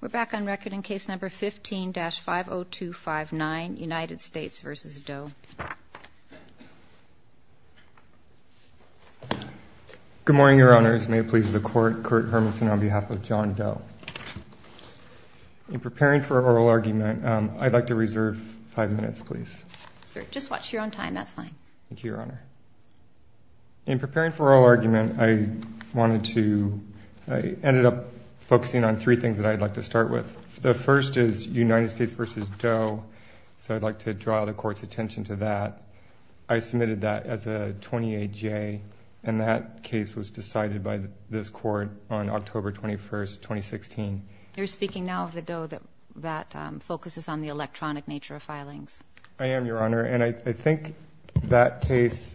We're back on record in case number 15-50259, United States v. Doe. Good morning, Your Honors. May it please the Court, Kurt Hermanson on behalf of John Doe. In preparing for oral argument, I'd like to reserve five minutes, please. Just watch your own time, that's fine. Thank you, Your Honor. In preparing for oral argument, I ended up focusing on three things that I'd like to start with. The first is United States v. Doe, so I'd like to draw the Court's attention to that. I submitted that as a 28-J, and that case was decided by this Court on October 21, 2016. You're speaking now of the Doe that focuses on the electronic nature of filings. I am, Your Honor, and I think that case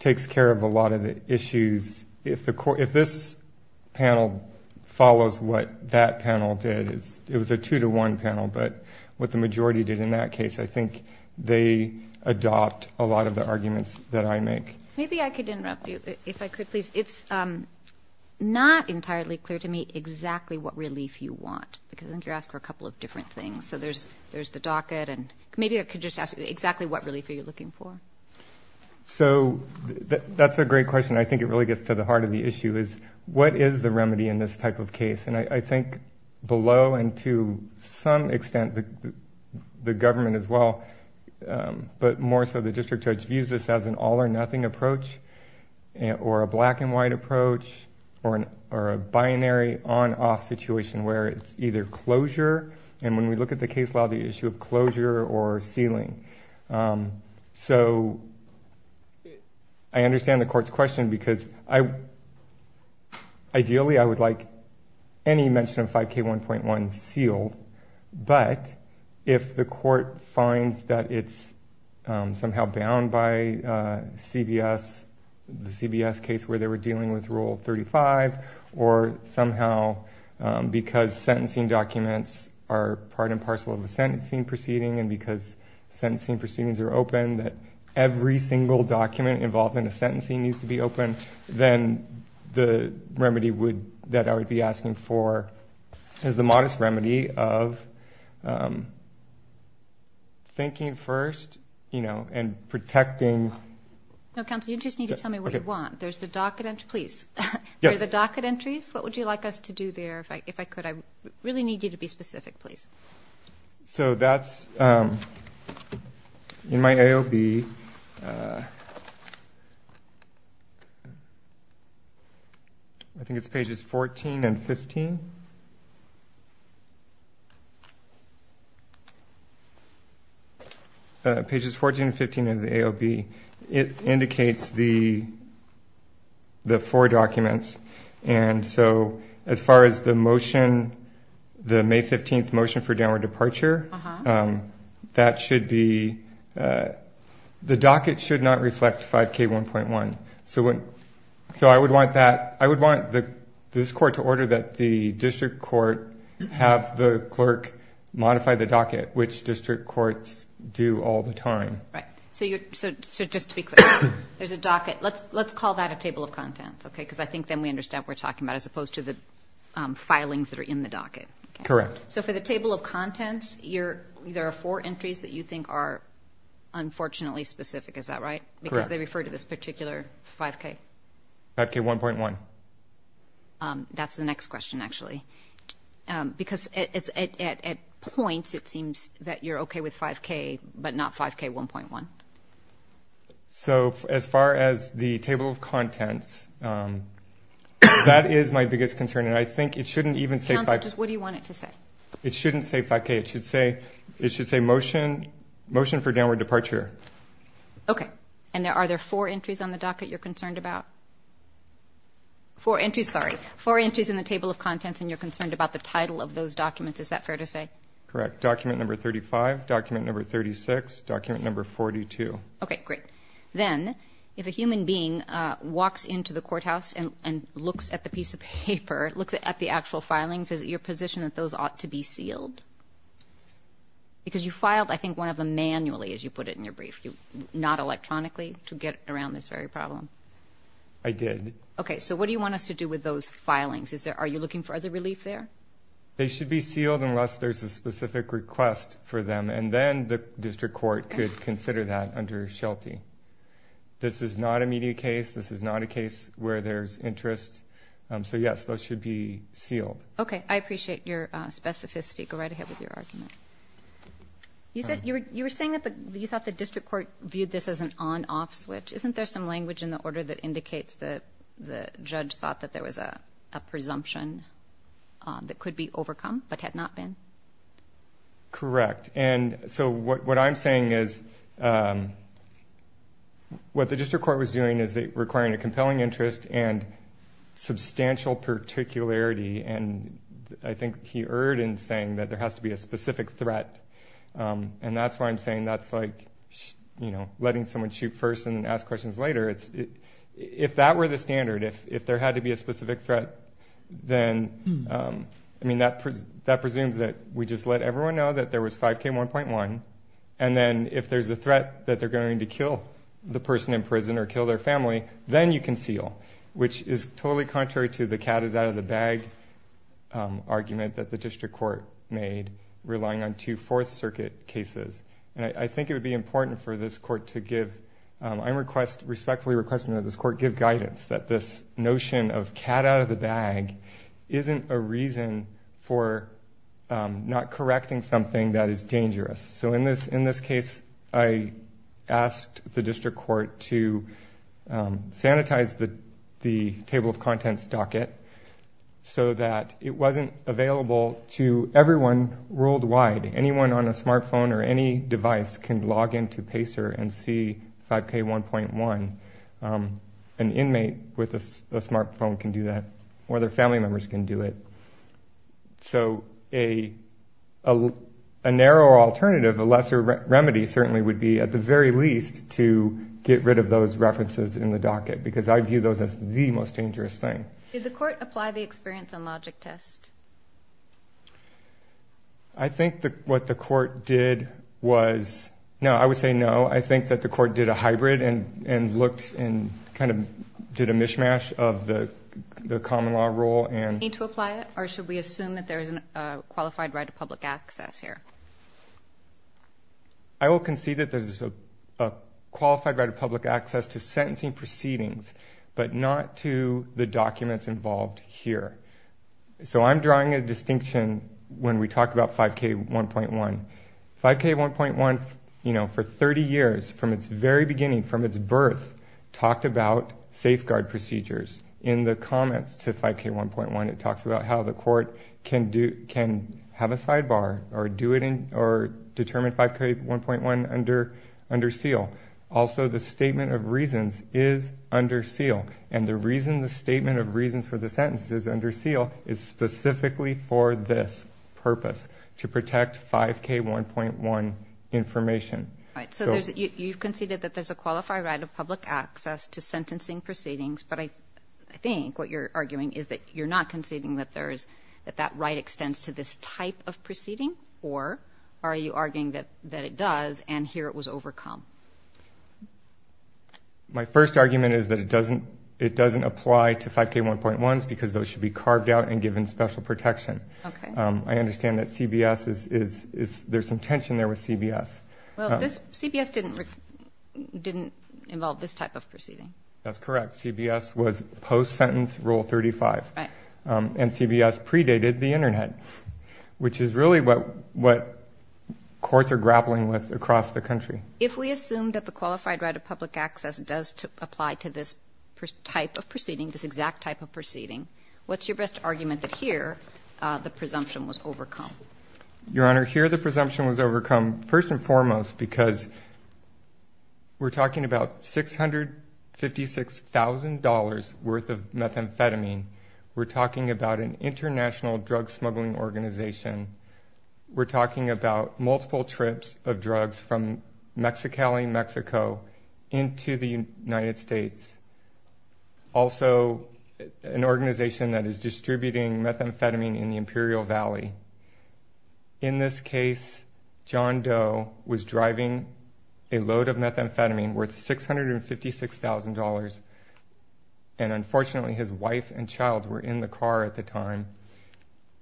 takes care of a lot of the issues. If this panel follows what that panel did, it was a two-to-one panel, but what the majority did in that case, I think they adopt a lot of the arguments that I make. Maybe I could interrupt you, if I could, please. It's not entirely clear to me exactly what relief you want, because I think you're asking for a couple of different things. So there's the docket, and maybe I could just ask exactly what relief are you looking for? So that's a great question. I think it really gets to the heart of the issue, is what is the remedy in this type of case? And I think below and to some extent the government as well, but more so the district judge, views this as an all-or-nothing approach or a black-and-white approach or a binary on-off situation where it's either closure, and when we look at the case law, the issue of closure or sealing. So I understand the court's question, because ideally I would like any mention of 5K1.1 sealed, but if the court finds that it's somehow bound by CBS, the CBS case where they were dealing with Rule 35, or somehow because sentencing documents are part and parcel of a sentencing proceeding and because sentencing proceedings are open, that every single document involved in a sentencing needs to be open, then the remedy that I would be asking for is the modest remedy of thinking first and protecting. No, counsel, you just need to tell me what you want. There's the docket entries. What would you like us to do there, if I could? I really need you to be specific, please. So that's in my AOB. I think it's pages 14 and 15. Pages 14 and 15 of the AOB, it indicates the four documents. And so as far as the motion, the May 15 motion for downward departure, that should be the docket should not reflect 5K1.1. So I would want this court to order that the district court have the clerk modify the docket which district courts do all the time. Right. So just to be clear, there's a docket. Let's call that a table of contents, okay, because I think then we understand what we're talking about as opposed to the filings that are in the docket. Correct. So for the table of contents, there are four entries that you think are unfortunately specific. Is that right? Correct. Because they refer to this particular 5K. 5K1.1. That's the next question, actually. Because at points it seems that you're okay with 5K but not 5K1.1. So as far as the table of contents, that is my biggest concern. And I think it shouldn't even say 5K. Counsel, just what do you want it to say? It shouldn't say 5K. It should say motion for downward departure. Okay. And are there four entries on the docket you're concerned about? Four entries, sorry. And you're concerned about the title of those documents. Is that fair to say? Correct. Document number 35, document number 36, document number 42. Okay, great. Then if a human being walks into the courthouse and looks at the piece of paper, looks at the actual filings, is it your position that those ought to be sealed? Because you filed, I think, one of them manually, as you put it in your brief, not electronically to get around this very problem. I did. Okay. So what do you want us to do with those filings? Are you looking for other relief there? They should be sealed unless there's a specific request for them, and then the district court could consider that under SHELTI. This is not a media case. This is not a case where there's interest. So, yes, those should be sealed. Okay. I appreciate your specificity. Go right ahead with your argument. You were saying that you thought the district court viewed this as an on-off switch. Isn't there some language in the order that indicates that the judge thought that there was a presumption that could be overcome but had not been? Correct. And so what I'm saying is what the district court was doing is requiring a compelling interest and substantial particularity, and I think he erred in saying that there has to be a specific threat. And that's why I'm saying that's like letting someone shoot first and ask questions later. If that were the standard, if there had to be a specific threat, then, I mean, that presumes that we just let everyone know that there was 5K1.1, and then if there's a threat that they're going to kill the person in prison or kill their family, then you conceal, which is totally contrary to the cat is out of the bag argument that the district court made relying on two Fourth Circuit cases. And I think it would be important for this court to give, I'm respectfully requesting that this court give guidance that this notion of cat out of the bag isn't a reason for not correcting something that is dangerous. So in this case, I asked the district court to sanitize the table of contents docket so that it wasn't available to everyone worldwide. Anyone on a smartphone or any device can log into PACER and see 5K1.1. An inmate with a smartphone can do that, or their family members can do it. So a narrow alternative, a lesser remedy certainly would be at the very least to get rid of those references in the docket because I view those as the most dangerous thing. Did the court apply the experience and logic test? I think what the court did was, no, I would say no. I think that the court did a hybrid and looked and kind of did a mishmash of the common law rule. Do we need to apply it, or should we assume that there is a qualified right of public access here? I will concede that there is a qualified right of public access to sentencing proceedings, but not to the documents involved here. So I'm drawing a distinction when we talk about 5K1.1. 5K1.1, you know, for 30 years, from its very beginning, from its birth, talked about safeguard procedures. In the comments to 5K1.1, it talks about how the court can have a sidebar or determine 5K1.1 under seal. Also, the statement of reasons is under seal, and the reason the statement of reasons for the sentence is under seal is specifically for this purpose, to protect 5K1.1 information. So you've conceded that there's a qualified right of public access to sentencing proceedings, but I think what you're arguing is that you're not conceding that that right extends to this type of proceeding, or are you arguing that it does and here it was overcome? My first argument is that it doesn't apply to 5K1.1s because those should be carved out and given special protection. I understand that there's some tension there with CBS. Well, CBS didn't involve this type of proceeding. That's correct. CBS was post-sentence Rule 35. Right. And CBS predated the Internet, which is really what courts are grappling with across the country. If we assume that the qualified right of public access does apply to this type of proceeding, this exact type of proceeding, what's your best argument that here the presumption was overcome? Your Honor, here the presumption was overcome first and foremost because we're talking about $656,000 worth of methamphetamine. We're talking about an international drug smuggling organization. We're talking about multiple trips of drugs from Mexicali, Mexico, into the United States. Also, an organization that is distributing methamphetamine in the Imperial Valley. In this case, John Doe was driving a load of methamphetamine worth $656,000, and unfortunately his wife and child were in the car at the time.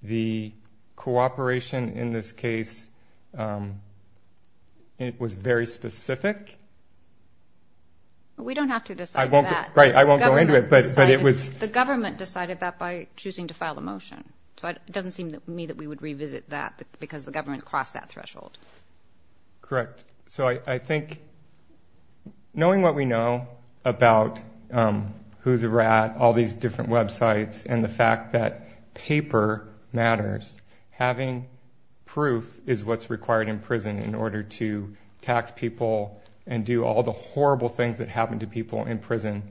The cooperation in this case was very specific. We don't have to decide that. I won't go into it, but it was. The government decided that by choosing to file a motion, so it doesn't seem to me that we would revisit that because the government crossed that threshold. Correct. So I think knowing what we know about who's a rat, all these different websites, and the fact that paper matters, having proof is what's required in prison in order to tax people and do all the horrible things that happen to people in prison.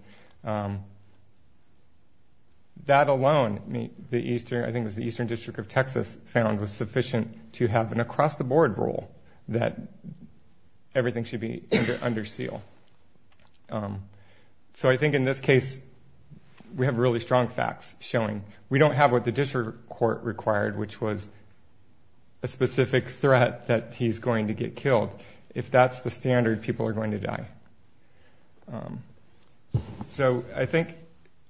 That alone, I think it was the Eastern District of Texas found, was sufficient to have an across-the-board rule that everything should be under seal. So I think in this case we have really strong facts showing we don't have what the district court required, which was a specific threat that he's going to get killed. If that's the standard, people are going to die. So I think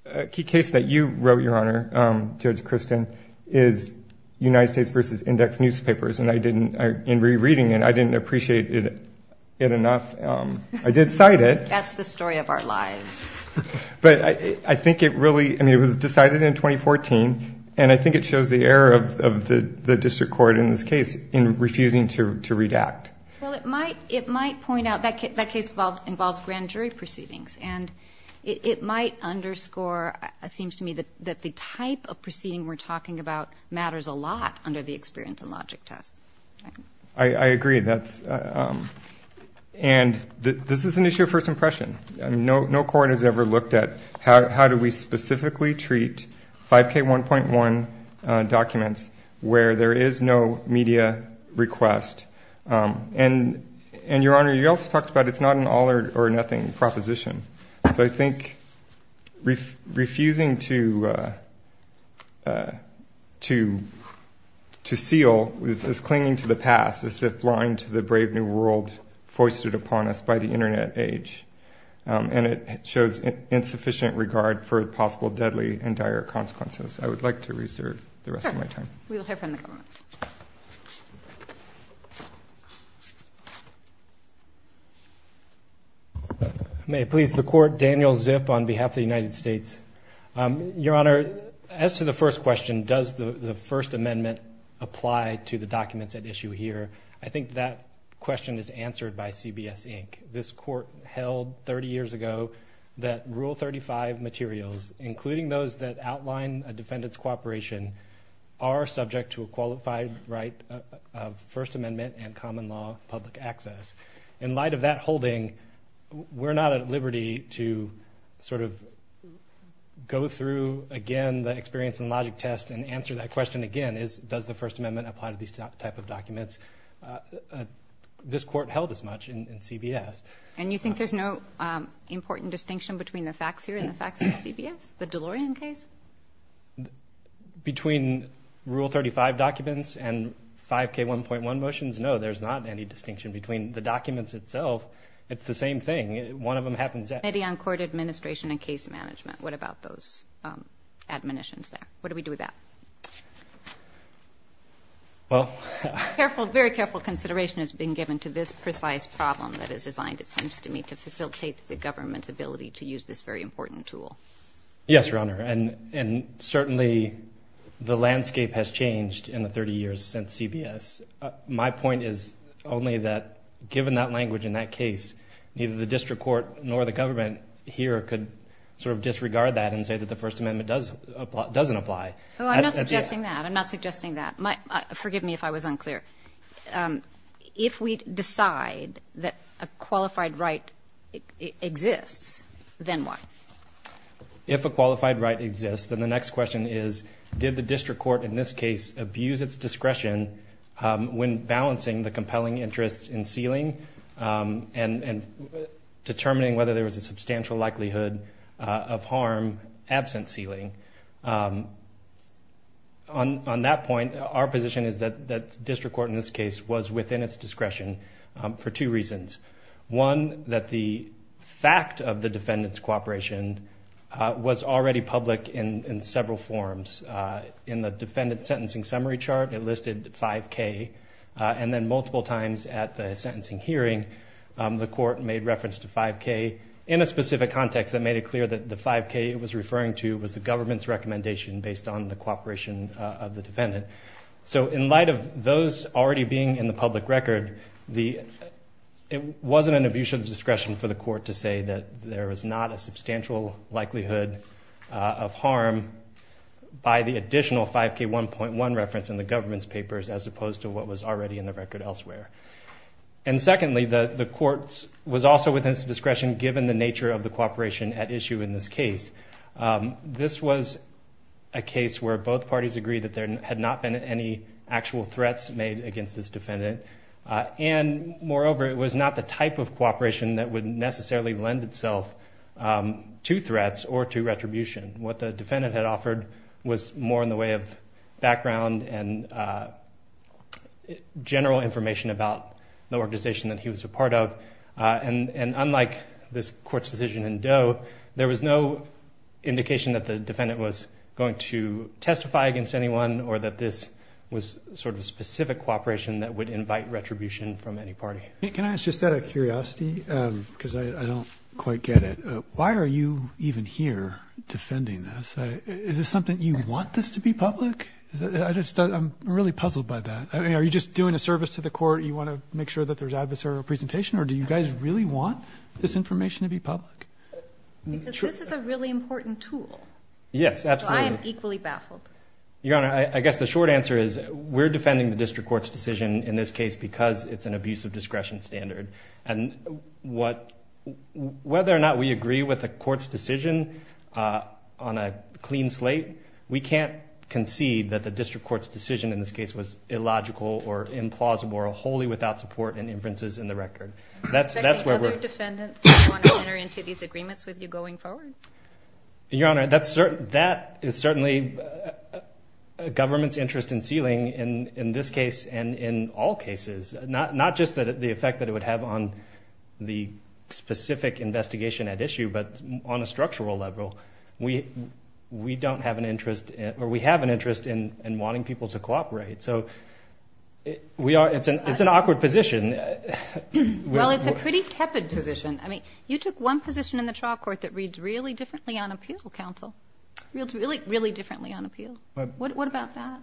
a key case that you wrote, Your Honor, Judge Kristen, is United States v. Index newspapers, and in rereading it, I didn't appreciate it enough. I did cite it. That's the story of our lives. But I think it really, I mean, it was decided in 2014, and I think it shows the error of the district court in this case in refusing to redact. Well, it might point out, that case involved grand jury proceedings, and it might underscore, it seems to me, that the type of proceeding we're talking about matters a lot under the experience and logic test. I agree. And this is an issue of first impression. No court has ever looked at how do we specifically treat 5K1.1 documents where there is no media request. And, Your Honor, you also talked about it's not an all-or-nothing proposition. So I think refusing to seal is clinging to the past, as if blind to the brave new world foisted upon us by the Internet age. And it shows insufficient regard for possible deadly and dire consequences. I would like to reserve the rest of my time. Sure. We'll hear from the government. Thank you. May it please the Court, Daniel Zip on behalf of the United States. Your Honor, as to the first question, does the First Amendment apply to the documents at issue here, I think that question is answered by CBS Inc. This court held 30 years ago that Rule 35 materials, including those that outline a defendant's cooperation, are subject to a qualified right of First Amendment and common law public access. In light of that holding, we're not at liberty to sort of go through, again, the experience and logic test and answer that question again. Does the First Amendment apply to these type of documents? This court held as much in CBS. And you think there's no important distinction between the facts here and the facts in CBS? The DeLorean case? Between Rule 35 documents and 5K1.1 motions, no, there's not any distinction between the documents itself. It's the same thing. One of them happens at the court administration and case management. What about those admonitions there? What do we do with that? Very careful consideration has been given to this precise problem that is designed, it seems to me, to facilitate the government's ability to use this very important tool. Yes, Your Honor, and certainly the landscape has changed in the 30 years since CBS. My point is only that given that language in that case, neither the district court nor the government here could sort of disregard that and say that the First Amendment doesn't apply. I'm not suggesting that. Forgive me if I was unclear. If we decide that a qualified right exists, then what? If a qualified right exists, then the next question is, did the district court in this case abuse its discretion when balancing the compelling interest in sealing and determining whether there was a substantial likelihood of harm absent sealing? On that point, our position is that the district court in this case was within its discretion for two reasons. One, that the fact of the defendant's cooperation was already public in several forms. In the defendant's sentencing summary chart, it listed 5K. And then multiple times at the sentencing hearing, the court made reference to 5K in a specific context that made it clear that the 5K it was referring to was the government's recommendation based on the cooperation of the defendant. So in light of those already being in the public record, it wasn't an abuse of discretion for the court to say that there was not a substantial likelihood of harm by the additional 5K 1.1 reference in the government's papers as opposed to what was already in the record elsewhere. And secondly, the court was also within its discretion given the nature of the cooperation at issue in this case. This was a case where both parties agreed that there had not been any actual threats made against this defendant. And moreover, it was not the type of cooperation that would necessarily lend itself to threats or to retribution. What the defendant had offered was more in the way of background and general information about the organization that he was a part of. And unlike this court's decision in Doe, there was no indication that the defendant was going to testify against anyone or that this was sort of specific cooperation that would invite retribution from any party. Can I ask just out of curiosity, because I don't quite get it. Why are you even here defending this? Is this something you want this to be public? I'm really puzzled by that. Are you just doing a service to the court? You want to make sure that there's adversarial presentation? Or do you guys really want this information to be public? Because this is a really important tool. Yes, absolutely. So I am equally baffled. Your Honor, I guess the short answer is we're defending the district court's decision in this case because it's an abuse of discretion standard. And whether or not we agree with the court's decision on a clean slate, we can't concede that the district court's decision in this case was illogical or implausible or wholly without support and inferences in the record. Are there other defendants that you want to enter into these agreements with you going forward? Your Honor, that is certainly a government's interest in sealing in this case and in all cases. Not just the effect that it would have on the specific investigation at issue, but on a structural level, we don't have an interest or we have an interest in wanting people to cooperate. So it's an awkward position. Well, it's a pretty tepid position. I mean, you took one position in the trial court that reads really differently on appeal, Counsel. It's really, really differently on appeal. What about that?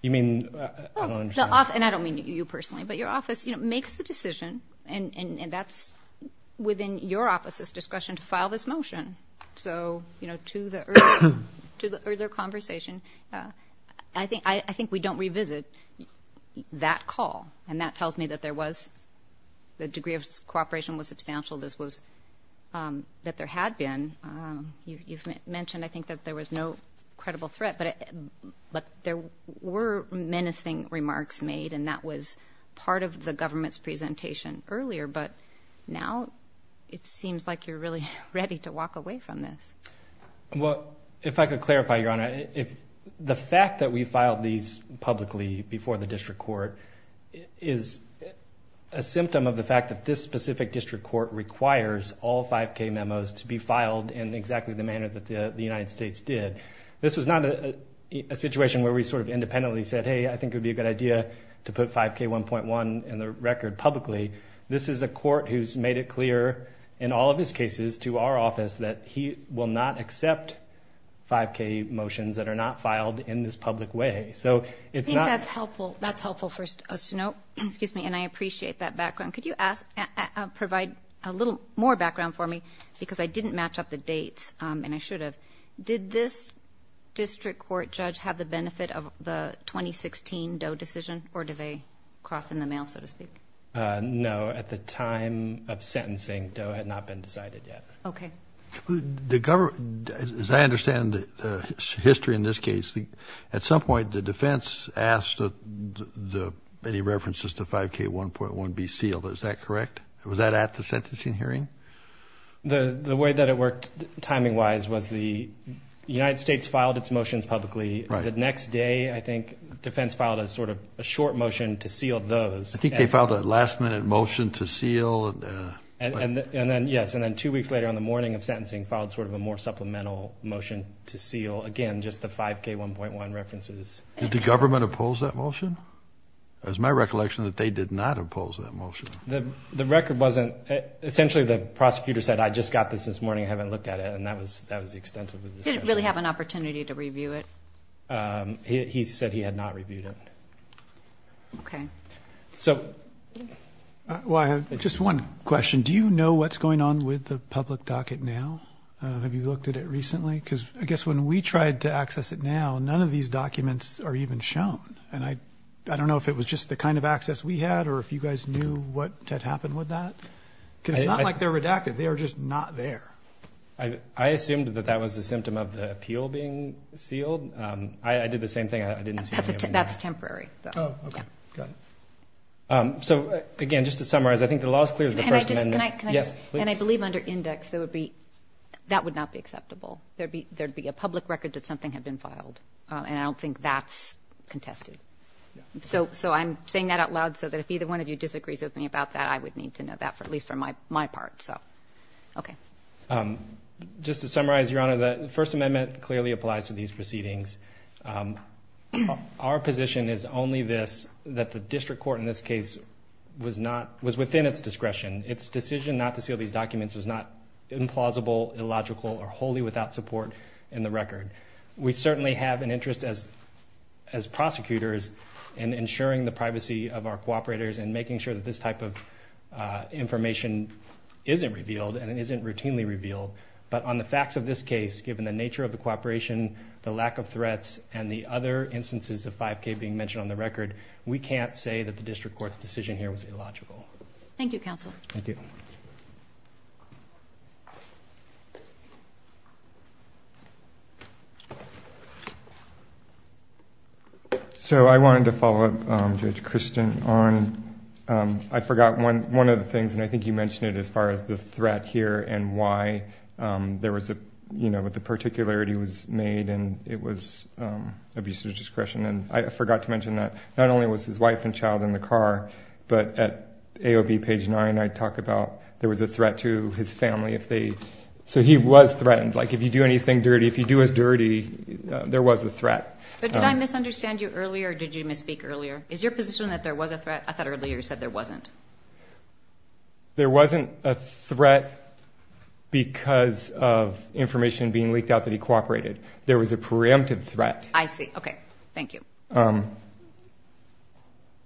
You mean, I don't understand. And I don't mean you personally, but your office makes the decision, and that's within your office's discretion to file this motion. So, you know, to the earlier conversation, I think we don't revisit that call. And that tells me that there was the degree of cooperation was substantial. This was that there had been. You've mentioned, I think, that there was no credible threat. But there were menacing remarks made, and that was part of the government's presentation earlier. But now it seems like you're really ready to walk away from this. Well, if I could clarify, Your Honor, the fact that we filed these publicly before the district court is a symptom of the fact that this specific district court requires all 5K memos to be filed in exactly the manner that the United States did. This was not a situation where we sort of independently said, hey, I think it would be a good idea to put 5K 1.1 in the record publicly. This is a court who's made it clear in all of his cases to our office that he will not accept 5K motions that are not filed in this public way. So it's not. I think that's helpful. That's helpful for us to know. Excuse me. And I appreciate that background. Could you provide a little more background for me? Because I didn't match up the dates, and I should have. Did this district court judge have the benefit of the 2016 Doe decision, or did they cross in the mail, so to speak? No. At the time of sentencing, Doe had not been decided yet. Okay. The government, as I understand the history in this case, at some point the defense asked that any references to 5K 1.1 be sealed. Is that correct? Was that at the sentencing hearing? The way that it worked timing-wise was the United States filed its motions publicly. Right. The next day, I think, defense filed a sort of short motion to seal those. I think they filed a last-minute motion to seal. Yes. And then two weeks later, on the morning of sentencing, filed sort of a more supplemental motion to seal, again, just the 5K 1.1 references. Did the government oppose that motion? It was my recollection that they did not oppose that motion. The record wasn't. Essentially, the prosecutor said, I just got this this morning. I haven't looked at it. And that was the extent of the discussion. Did it really have an opportunity to review it? He said he had not reviewed it. Okay. So. Well, I have just one question. Do you know what's going on with the public docket now? Have you looked at it recently? Because I guess when we tried to access it now, none of these documents are even shown. And I don't know if it was just the kind of access we had or if you guys knew what had happened with that. Because it's not like they're redacted. They are just not there. I assumed that that was a symptom of the appeal being sealed. I did the same thing. That's temporary. So, again, just to summarize, I think the law is clear. And I believe under index that would be that would not be acceptable. There'd be there'd be a public record that something had been filed. And I don't think that's contested. So so I'm saying that out loud so that if either one of you disagrees with me about that, I would need to know that for at least for my my part. So, okay. Just to summarize, Your Honor, the First Amendment clearly applies to these proceedings. Our position is only this, that the district court in this case was not was within its discretion. Its decision not to seal these documents was not implausible, illogical or wholly without support in the record. We certainly have an interest as as prosecutors in ensuring the privacy of our cooperators and making sure that this type of information isn't revealed and it isn't routinely revealed. But on the facts of this case, given the nature of the cooperation, the lack of threats and the other instances of 5K being mentioned on the record, we can't say that the district court's decision here was illogical. Thank you, counsel. Thank you. So I wanted to follow up, Judge Kristen, on I forgot when one of the things and I think you mentioned it as far as the threat here and why there was a, you know, what the particularity was made and it was abuse of discretion. And I forgot to mention that not only was his wife and child in the car, but at AOB page 9 I talk about there was a threat to his family if they, so he was threatened. Like if you do anything dirty, if you do us dirty, there was a threat. But did I misunderstand you earlier or did you misspeak earlier? Is your position that there was a threat? I thought earlier you said there wasn't. There wasn't a threat because of information being leaked out that he cooperated. There was a preemptive threat. I see. Okay. Thank you.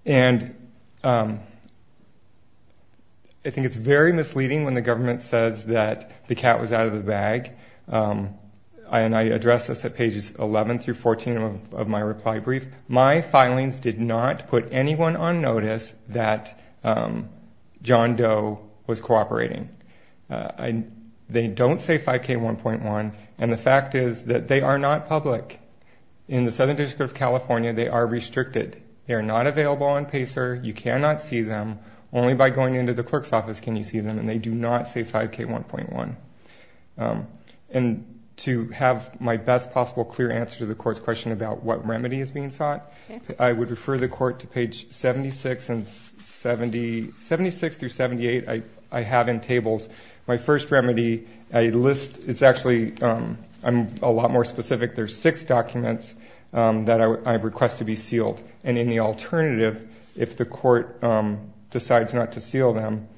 And I think it's very misleading when the government says that the cat was out of the bag. And I addressed this at pages 11 through 14 of my reply brief. My filings did not put anyone on notice that John Doe was cooperating. They don't say 5K1.1, and the fact is that they are not public. In the Southern District of California, they are restricted. They are not available on PACER. You cannot see them. Only by going into the clerk's office can you see them, and they do not say 5K1.1. And to have my best possible clear answer to the court's question about what remedy is being sought, I would refer the court to page 76 through 78 I have in tables. My first remedy, I list – it's actually – I'm a lot more specific. There are six documents that I request to be sealed. And in the alternative, if the court decides not to seal them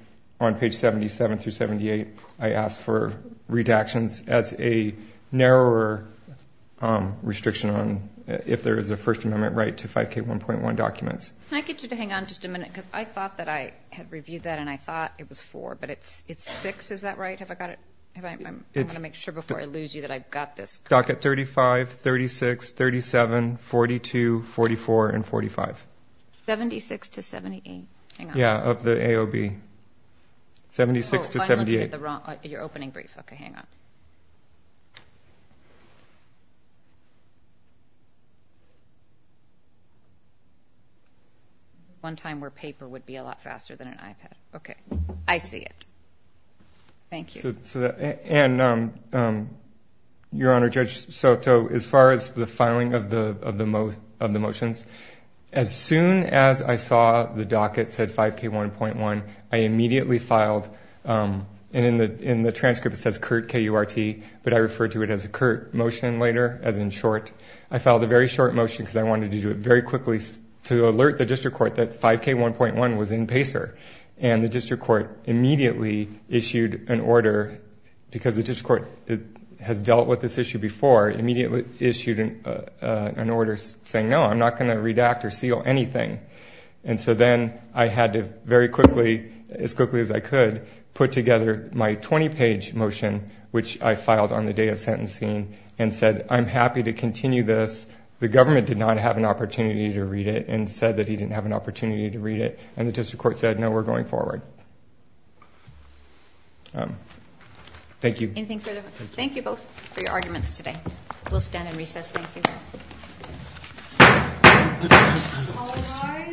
on page 77 through 78, I ask for redactions as a narrower restriction on if there is a First Amendment right to 5K1.1 documents. Can I get you to hang on just a minute? Because I thought that I had reviewed that, and I thought it was four, but it's six. Is that right? Have I got it? I want to make sure before I lose you that I've got this correct. Stock at 35, 36, 37, 42, 44, and 45. 76 to 78? Yeah, of the AOB. 76 to 78. You're opening brief. Okay, hang on. One time where paper would be a lot faster than an iPad. Okay. I see it. Thank you. And, Your Honor, Judge Soto, as far as the filing of the motions, as soon as I saw the docket said 5K1.1, I immediately filed – and in the transcript it says CURT, K-U-R-T, but I referred to it as a CURT motion later, as in short. I filed a very short motion because I wanted to do it very quickly to alert the district court that 5K1.1 was in PACER. And the district court immediately issued an order, because the district court has dealt with this issue before, immediately issued an order saying, no, I'm not going to redact or seal anything. And so then I had to very quickly, as quickly as I could, put together my 20-page motion, which I filed on the day of sentencing, and said I'm happy to continue this. The government did not have an opportunity to read it and said that he didn't have an opportunity to read it. And the district court said, no, we're going forward. Thank you. Anything further? Thank you both for your arguments today. We'll stand and recess. Thank you. All rise.